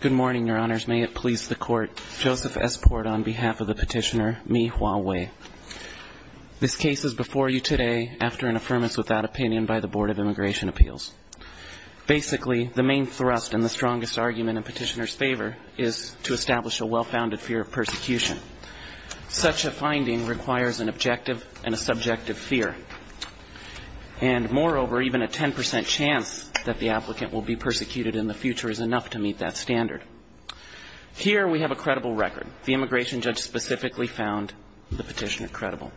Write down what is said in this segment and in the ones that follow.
Good morning, Your Honors. May it please the Court, Joseph S. Port on behalf of the Petitioner, me, Hua Wei. This case is before you today after an affirmance without opinion by the Board of Immigration Appeals. Basically, the main thrust and the strongest argument in Petitioner's favor is to establish a well-founded fear of persecution. Such a finding requires an objective and a subjective fear. And moreover, even a 10% chance that the applicant will be persecuted in the future is enough to meet that standard. Here we have a credible record. The immigration judge specifically found the petitioner credible.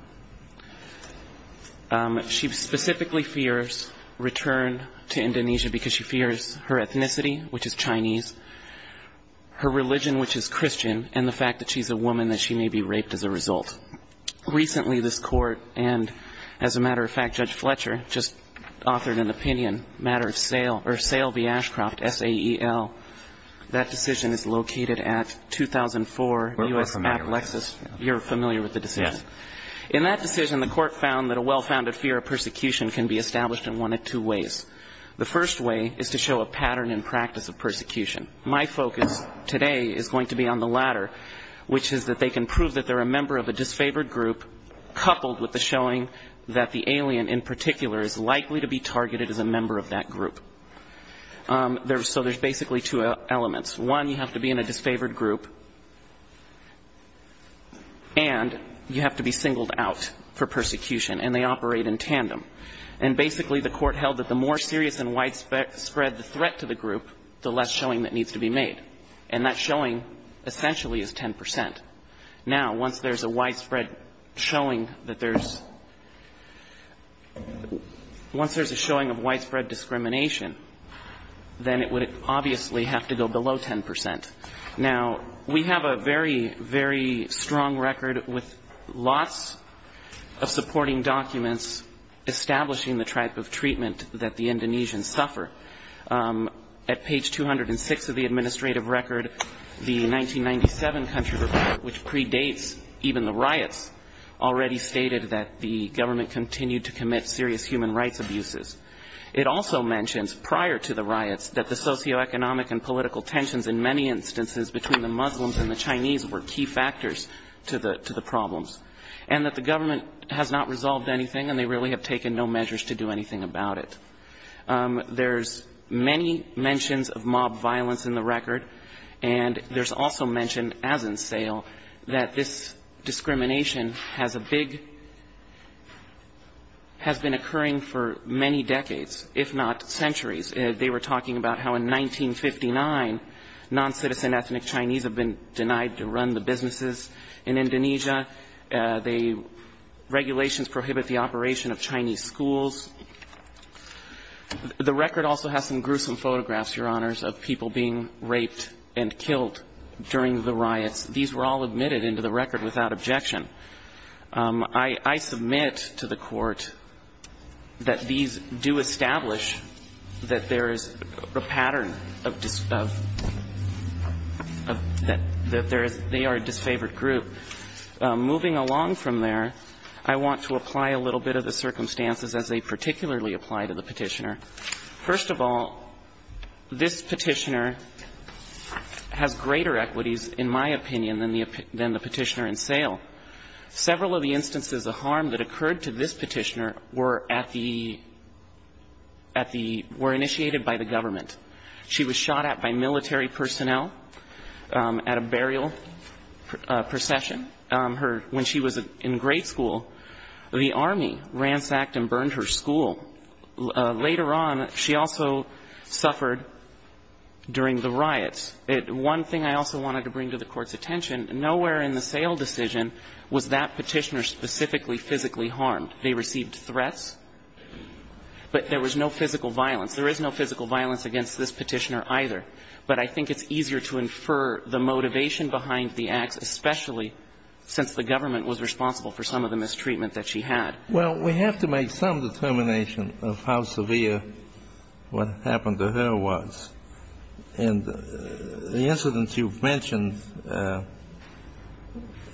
She specifically fears return to Indonesia because she fears her ethnicity, which is Chinese, her religion, which is Christian, and the fact that she's a woman that she may be raped as a result. Recently, this Court and, as a matter of fact, Judge Fletcher just authored an opinion, a matter of sale, or sale v. Ashcroft, S-A-E-L. That decision is located at 2004 U.S. App Lexis. You're familiar with the decision? Yes. In that decision, the Court found that a well-founded fear of persecution can be established in one of two ways. The first way is to show a pattern in practice of persecution. My focus today is going to be on the latter, which is that they can prove that they're a member of a disfavored group coupled with the showing that the alien in particular is likely to be targeted as a member of that group. So there's basically two elements. One, you have to be in a disfavored group and you have to be singled out for persecution, and they operate in tandem. And basically, the Court held that the more serious and widespread the threat to the group, the less showing that needs to be made. And that showing essentially is 10 percent. Now, once there's a widespread showing that there's — once there's a showing of widespread discrimination, then it would obviously have to go below 10 percent. Now, we have a very, very strong record with lots of supporting documents establishing the type of treatment that the Indonesians suffer. At page 206 of the administrative record, the 1997 country report, which predates even the riots, already stated that the government continued to commit serious human rights abuses. It also mentions prior to the riots that the socioeconomic and political tensions in many instances between the Muslims and the Chinese were key factors to the problems, and that the government has not resolved anything and they really have taken no measures to do anything about it. There's many mentions of mob violence in the record, and there's also mention, as in sale, that this discrimination has a big — has been occurring for many decades, if not centuries. They were talking about how in 1959, noncitizen ethnic Chinese have been denied to run the businesses in Indonesia. The regulations prohibit the operation of Chinese schools. The record also has some gruesome photographs, Your Honors, of people being raped and killed during the riots. These were all admitted into the record without objection. I submit to the Court that these do establish that there is a pattern of — that they are a disfavored group. Moving along from there, I want to apply a little bit of the circumstances as they particularly apply to the Petitioner. First of all, this Petitioner has greater equities, in my opinion, than the Petitioner in sale. Several of the instances of harm that occurred to this Petitioner were at the — at the — were initiated by the government. She was shot at by military personnel at a burial procession. Her — when she was in grade school, the Army ransacked and burned her school. Later on, she also suffered during the riots. One thing I also wanted to bring to the Court's attention, nowhere in the sale decision was that Petitioner specifically physically harmed. They received threats, but there was no physical violence. There is no physical violence against this Petitioner either. But I think it's easier to infer the motivation behind the acts, especially since the government was responsible for some of the mistreatment that she had. Well, we have to make some determination of how severe what happened to her was. And the incidents you've mentioned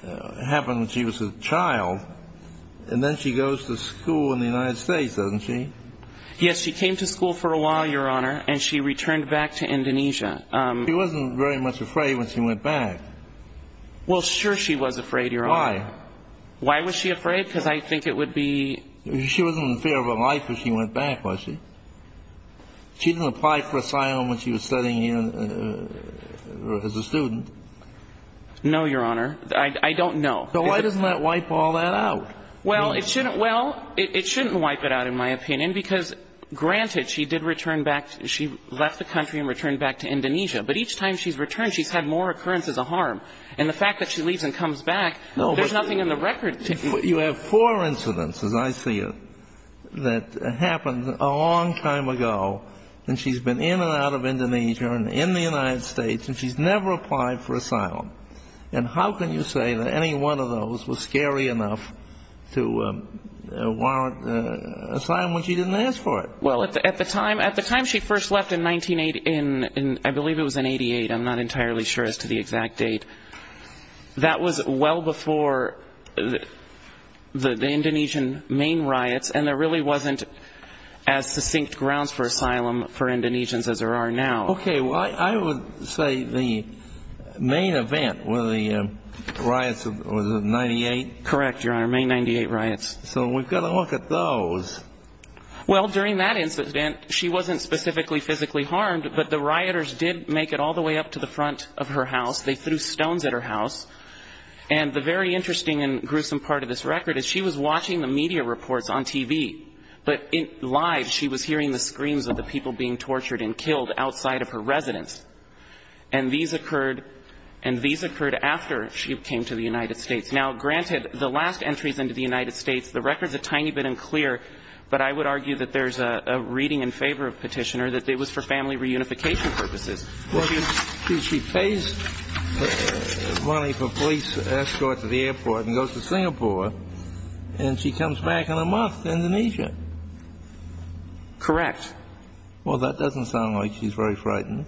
happened when she was a child, and then she goes to school in the United States, doesn't she? Yes, she came to school for a while, Your Honor, and she returned back to Indonesia. She wasn't very much afraid when she went back. Well, sure she was afraid, Your Honor. Why? Why was she afraid? Because I think it would be... She wasn't afraid of her life when she went back, was she? She didn't apply for asylum when she was studying as a student. No, Your Honor. I don't know. So why doesn't that wipe all that out? Well, it shouldn't wipe it out, in my opinion, because, granted, she did return back. She left the country and returned back to Indonesia. But each time she's returned, she's had more occurrences of harm. And the fact that she leaves and comes back, there's not nothing in the record. You have four incidents, as I see it, that happened a long time ago, and she's been in and out of Indonesia and in the United States, and she's never applied for asylum. And how can you say that any one of those was scary enough to warrant asylum when she didn't ask for it? Well, at the time she first left in 1988, I'm not entirely sure as to the exact date, but that was well before the Indonesian main riots, and there really wasn't as succinct grounds for asylum for Indonesians as there are now. Okay. Well, I would say the main event, one of the riots, was it 98? Correct, Your Honor. May 98 riots. So we've got to look at those. Well, during that incident, she wasn't specifically physically harmed, but the rioters did make it all the way up to the front of her house. They threw stones at her house. And the very interesting and gruesome part of this record is she was watching the media reports on TV, but live she was hearing the screams of the people being tortured and killed outside of her residence. And these occurred after she came to the United States. Now, granted, the last entries into the United States, the record's a tiny bit unclear, but I would argue that there's a reading in favor of Petitioner that it was for family reunification purposes. Well, she pays money for police escort to the airport and goes to Singapore, and she comes back in a month to Indonesia. Correct. Well, that doesn't sound like she's very frightened.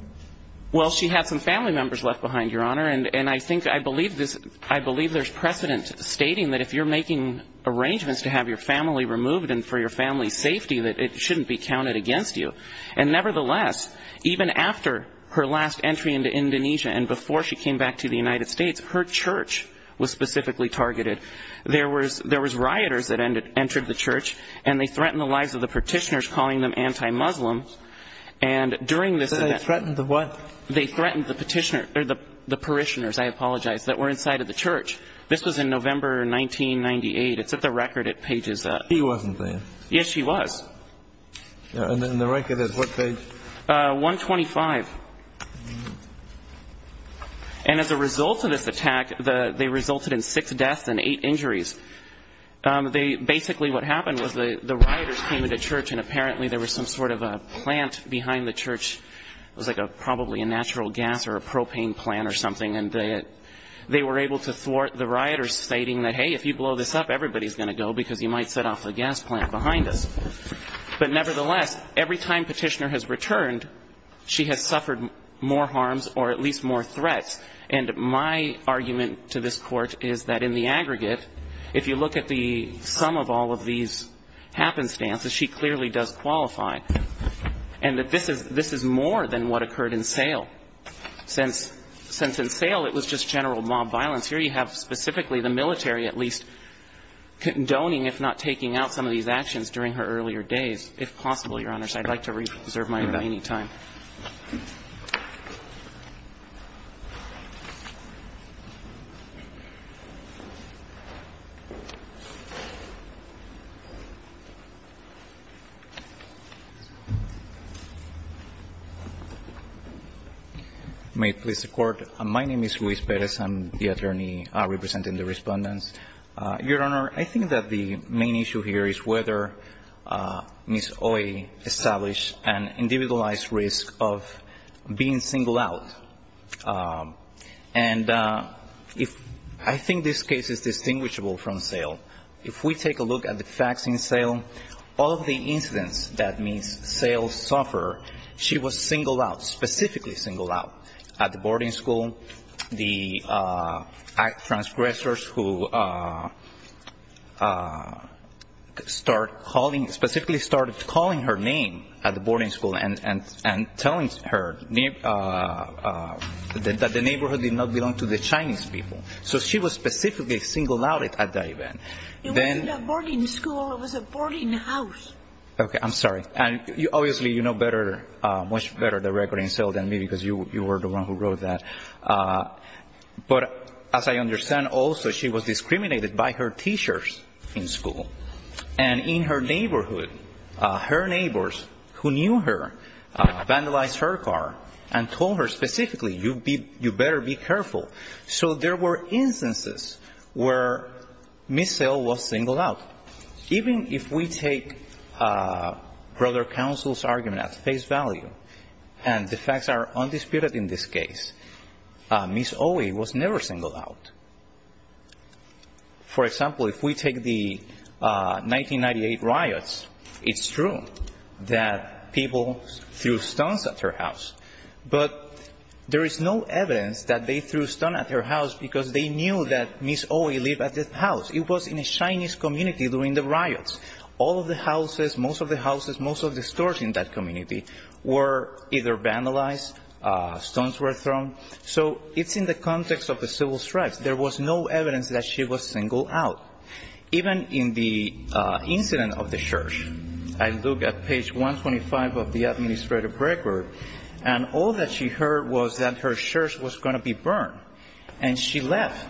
Well, she had some family members left behind, Your Honor, and I think I believe there's precedent stating that if you're making arrangements to have your family removed and for your family's safety, that it shouldn't be counted against you. And nevertheless, even after her last entry into Indonesia and before she came back to the United States, her church was specifically targeted. There was rioters that entered the church, and they threatened the lives of the Petitioners, calling them anti-Muslims. And during this event... They threatened the what? They threatened the Petitioner, or the parishioners, I apologize, that were inside of the church. This was in November 1998. It's at the record at pages... She wasn't there. Yes, she was. And then the record is what page? 125. And as a result of this attack, they resulted in six deaths and eight injuries. Basically what happened was the rioters came into church, and apparently there was some sort of a plant behind the church. It was probably a natural gas or a propane plant or something, and they were able to thwart the rioters, stating that, hey, if you blow this up, everybody's going to go because you might set off a gas plant behind us. But nevertheless, every time Petitioner has returned, she has suffered more harms or at least more threats. And my argument to this Court is that in the aggregate, if you look at the sum of all of these happenstances, she clearly does qualify, and that this is more than what occurred in Sale. Since in Sale, it was just general mob violence. Here we have specifically the military at least condoning, if not taking out, some of these actions during her earlier days, if possible, Your Honors. I'd like to reserve my remaining time. May it please the Court. My name is Luis Perez. I'm the attorney in charge of Petitioner County, representing the respondents. Your Honor, I think that the main issue here is whether Ms. Oye established an individualized risk of being singled out. And I think this case is distinguishable from Sale. If we take a look at the facts in Sale, all of the incidents that Ms. Sale suffered, she was singled out, specifically singled out, at the boarding school, and telling her that the neighborhood did not belong to the Chinese people. So she was specifically singled out at that event. It wasn't a boarding school. It was a boarding house. Okay. I'm sorry. And obviously, you know better, much better, the record in Sale than me, because you were the one who wrote that. But as I understand also, she was discriminated by her teachers in school. And in her neighborhood, her neighbors who knew her vandalized her car and told her specifically, you better be careful. So there were instances where Ms. Sale was singled out. Even if we take Brother Counsel's argument at face value, and the facts are undisputed in this case, Ms. Oye was never singled out. For example, if we take the 1998 riots, it's true that people threw stones at her house. But there is no evidence that they threw stone at her house because they knew that Ms. Oye lived at that house. It was in a Chinese community during the riots. All of the houses, most of the houses, most of the stores in that community were either vandalized, stones were thrown. So it's in the context of the civil strikes. There was no evidence that she was singled out. Even in the incident of the church, I look at page 125 of the administrative record, and all that she heard was that her church was going to be burned. And she left.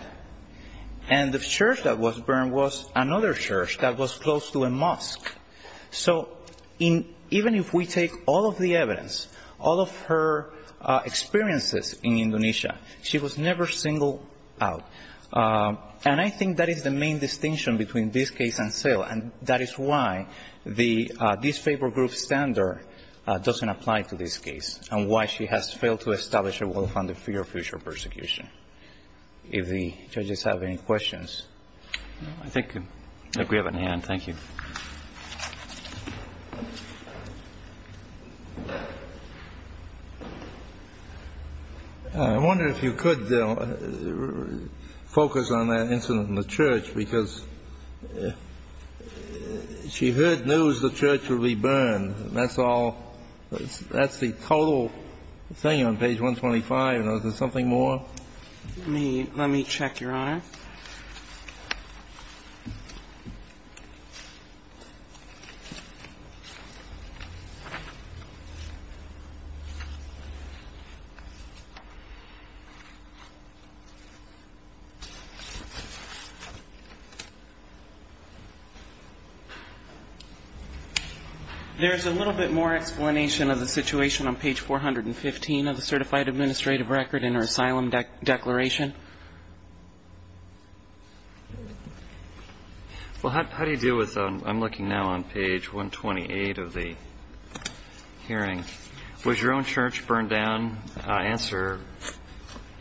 And the church that was burned was another church that was close to a mosque. So even if we take all of the evidence, all of her experiences in Indonesia, she was never singled out. And I think that is the main distinction between this case and Sale. And that is why the disfavored group standard doesn't apply to this case, and why she has failed to establish a well-founded fear of future persecution. If the judges have any questions. I think we have an end. Thank you. I wonder if you could focus on that incident in the church, because she heard news the other day that she was being persecuted. Is there something more? Let me check, Your Honor. There is a little bit more explanation of the situation on page 415 of the certified administrative record in her asylum declaration. Well, how do you deal with, I'm looking now on page 128 of the hearing, was your own church burned down? Answer,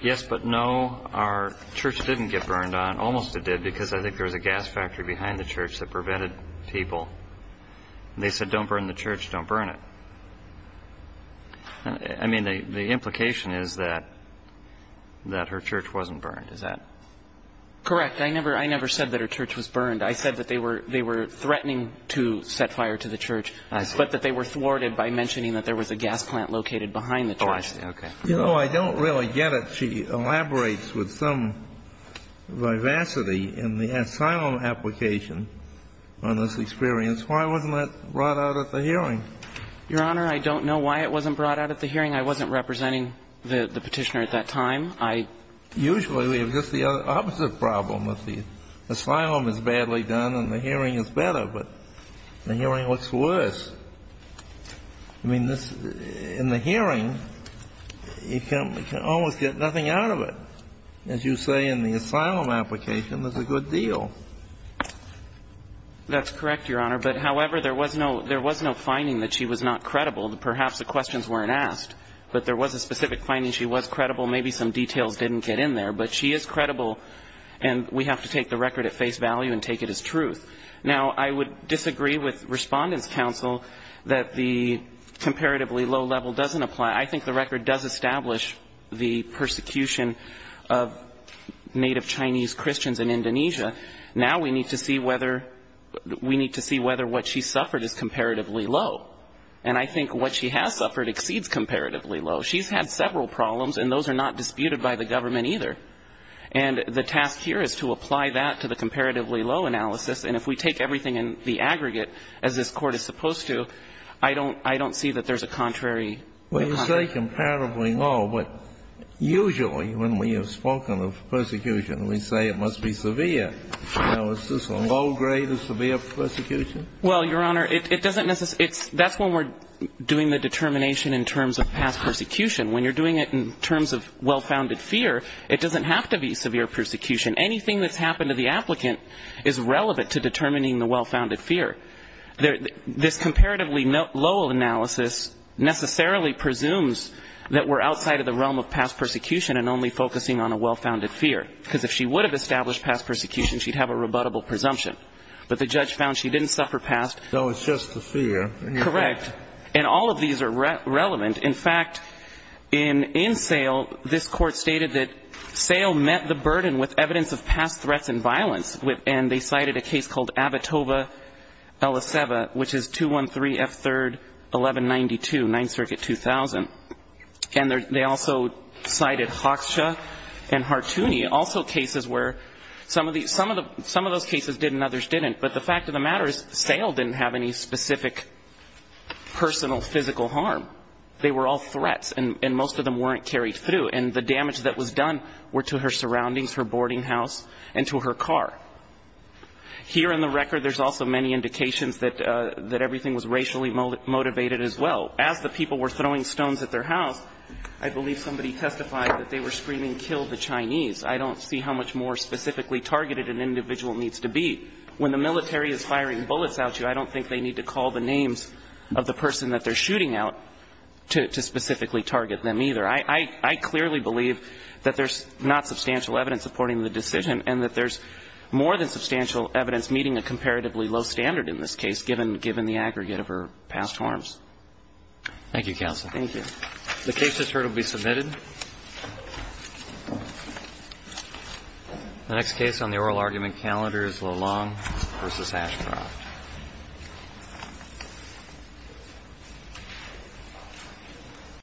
yes but no. Our church didn't get burned down. Almost it did, because I think there was a gas factory behind the church that prevented people. They said don't burn the church, don't burn it. I mean, the implication is that her church wasn't burned. Is that correct? I never said that her church was burned. I said that they were threatening to set fire to the church, but that they were thwarted by mentioning that there was a gas plant located behind the church. Oh, I see. Okay. You know, I don't really get it. She elaborates with some vivacity in the asylum application on this experience. Why wasn't that brought out at the hearing? Your Honor, I don't know why it wasn't brought out at the hearing. I wasn't representing the Petitioner at that time. I — Usually we have just the opposite problem, that the asylum is badly done and the hearing is better, but the hearing looks worse. I mean, in the hearing, you can almost get nothing out of it. As you say, in the asylum application, it's a good deal. That's correct, Your Honor. But, however, there was no — there was no finding that she was not credible. Perhaps the questions weren't asked, but there was a specific finding she was credible. Maybe some details didn't get in there. But she is credible, and we have to take the record at face value and take it as truth. Now, I would disagree with Respondent's counsel that the comparatively low level doesn't apply. I think the record does establish the persecution of Native Chinese Christians in Indonesia. Now we need to see whether — we need to see whether what she suffered is comparatively low. And I think what she has suffered exceeds comparatively low. She's had several problems, and those are not disputed by the government, either. And the task here is to apply that to the comparatively low analysis. And if we take everything in the aggregate, as this Court is supposed to, I don't — I don't see that there's a contrary — Well, you say comparatively low, but usually when we have spoken of persecution, we say it must be severe. Now, is this a low grade of severe persecution? Well, Your Honor, it doesn't necessarily — that's when we're doing the determination in terms of past persecution. When you're doing it in terms of well-founded fear, it doesn't have to be severe persecution. Anything that's happened to the applicant is relevant to determining the well-founded fear. This comparatively low analysis necessarily presumes that we're outside of the realm of past persecution and only focusing on a well-founded fear, because if she would have established past persecution, she'd have a rebuttable presumption. But the judge found she didn't suffer past — No, it's just the fear. Correct. And all of these are relevant. In fact, in — in Sale, this Court stated that Sale met the burden with evidence of past threats and violence, and they cited a case called Avitova-Eliseva, which is 213F3-1192, 9th Circuit 2000. And they also cited Hoksha and Hartouni, also cases where some of the — some of those cases did and others didn't. But the fact of the matter is, Sale didn't have any specific personal physical harm. They were all threats, and most of them weren't carried through. And the damage that was done were to her surroundings, her boarding house, and to her car. Here in the record, there's also many indications that — that everything was racially motivated as well. As the people were throwing stones at their house, I believe somebody testified that they were screaming, kill the Chinese. I don't see how much more specifically targeted an individual needs to be. When the military is firing bullets at you, I don't think they need to call the names of the person that they're shooting at to specifically target them either. I clearly believe that there's not substantial evidence supporting the decision and that there's more than substantial evidence meeting a comparatively low standard in this case, given the aggregate of her past harms. Thank you, counsel. Thank you. The case is heard and will be submitted. The next case on the oral argument calendar is Lalonde v. Ashcroft.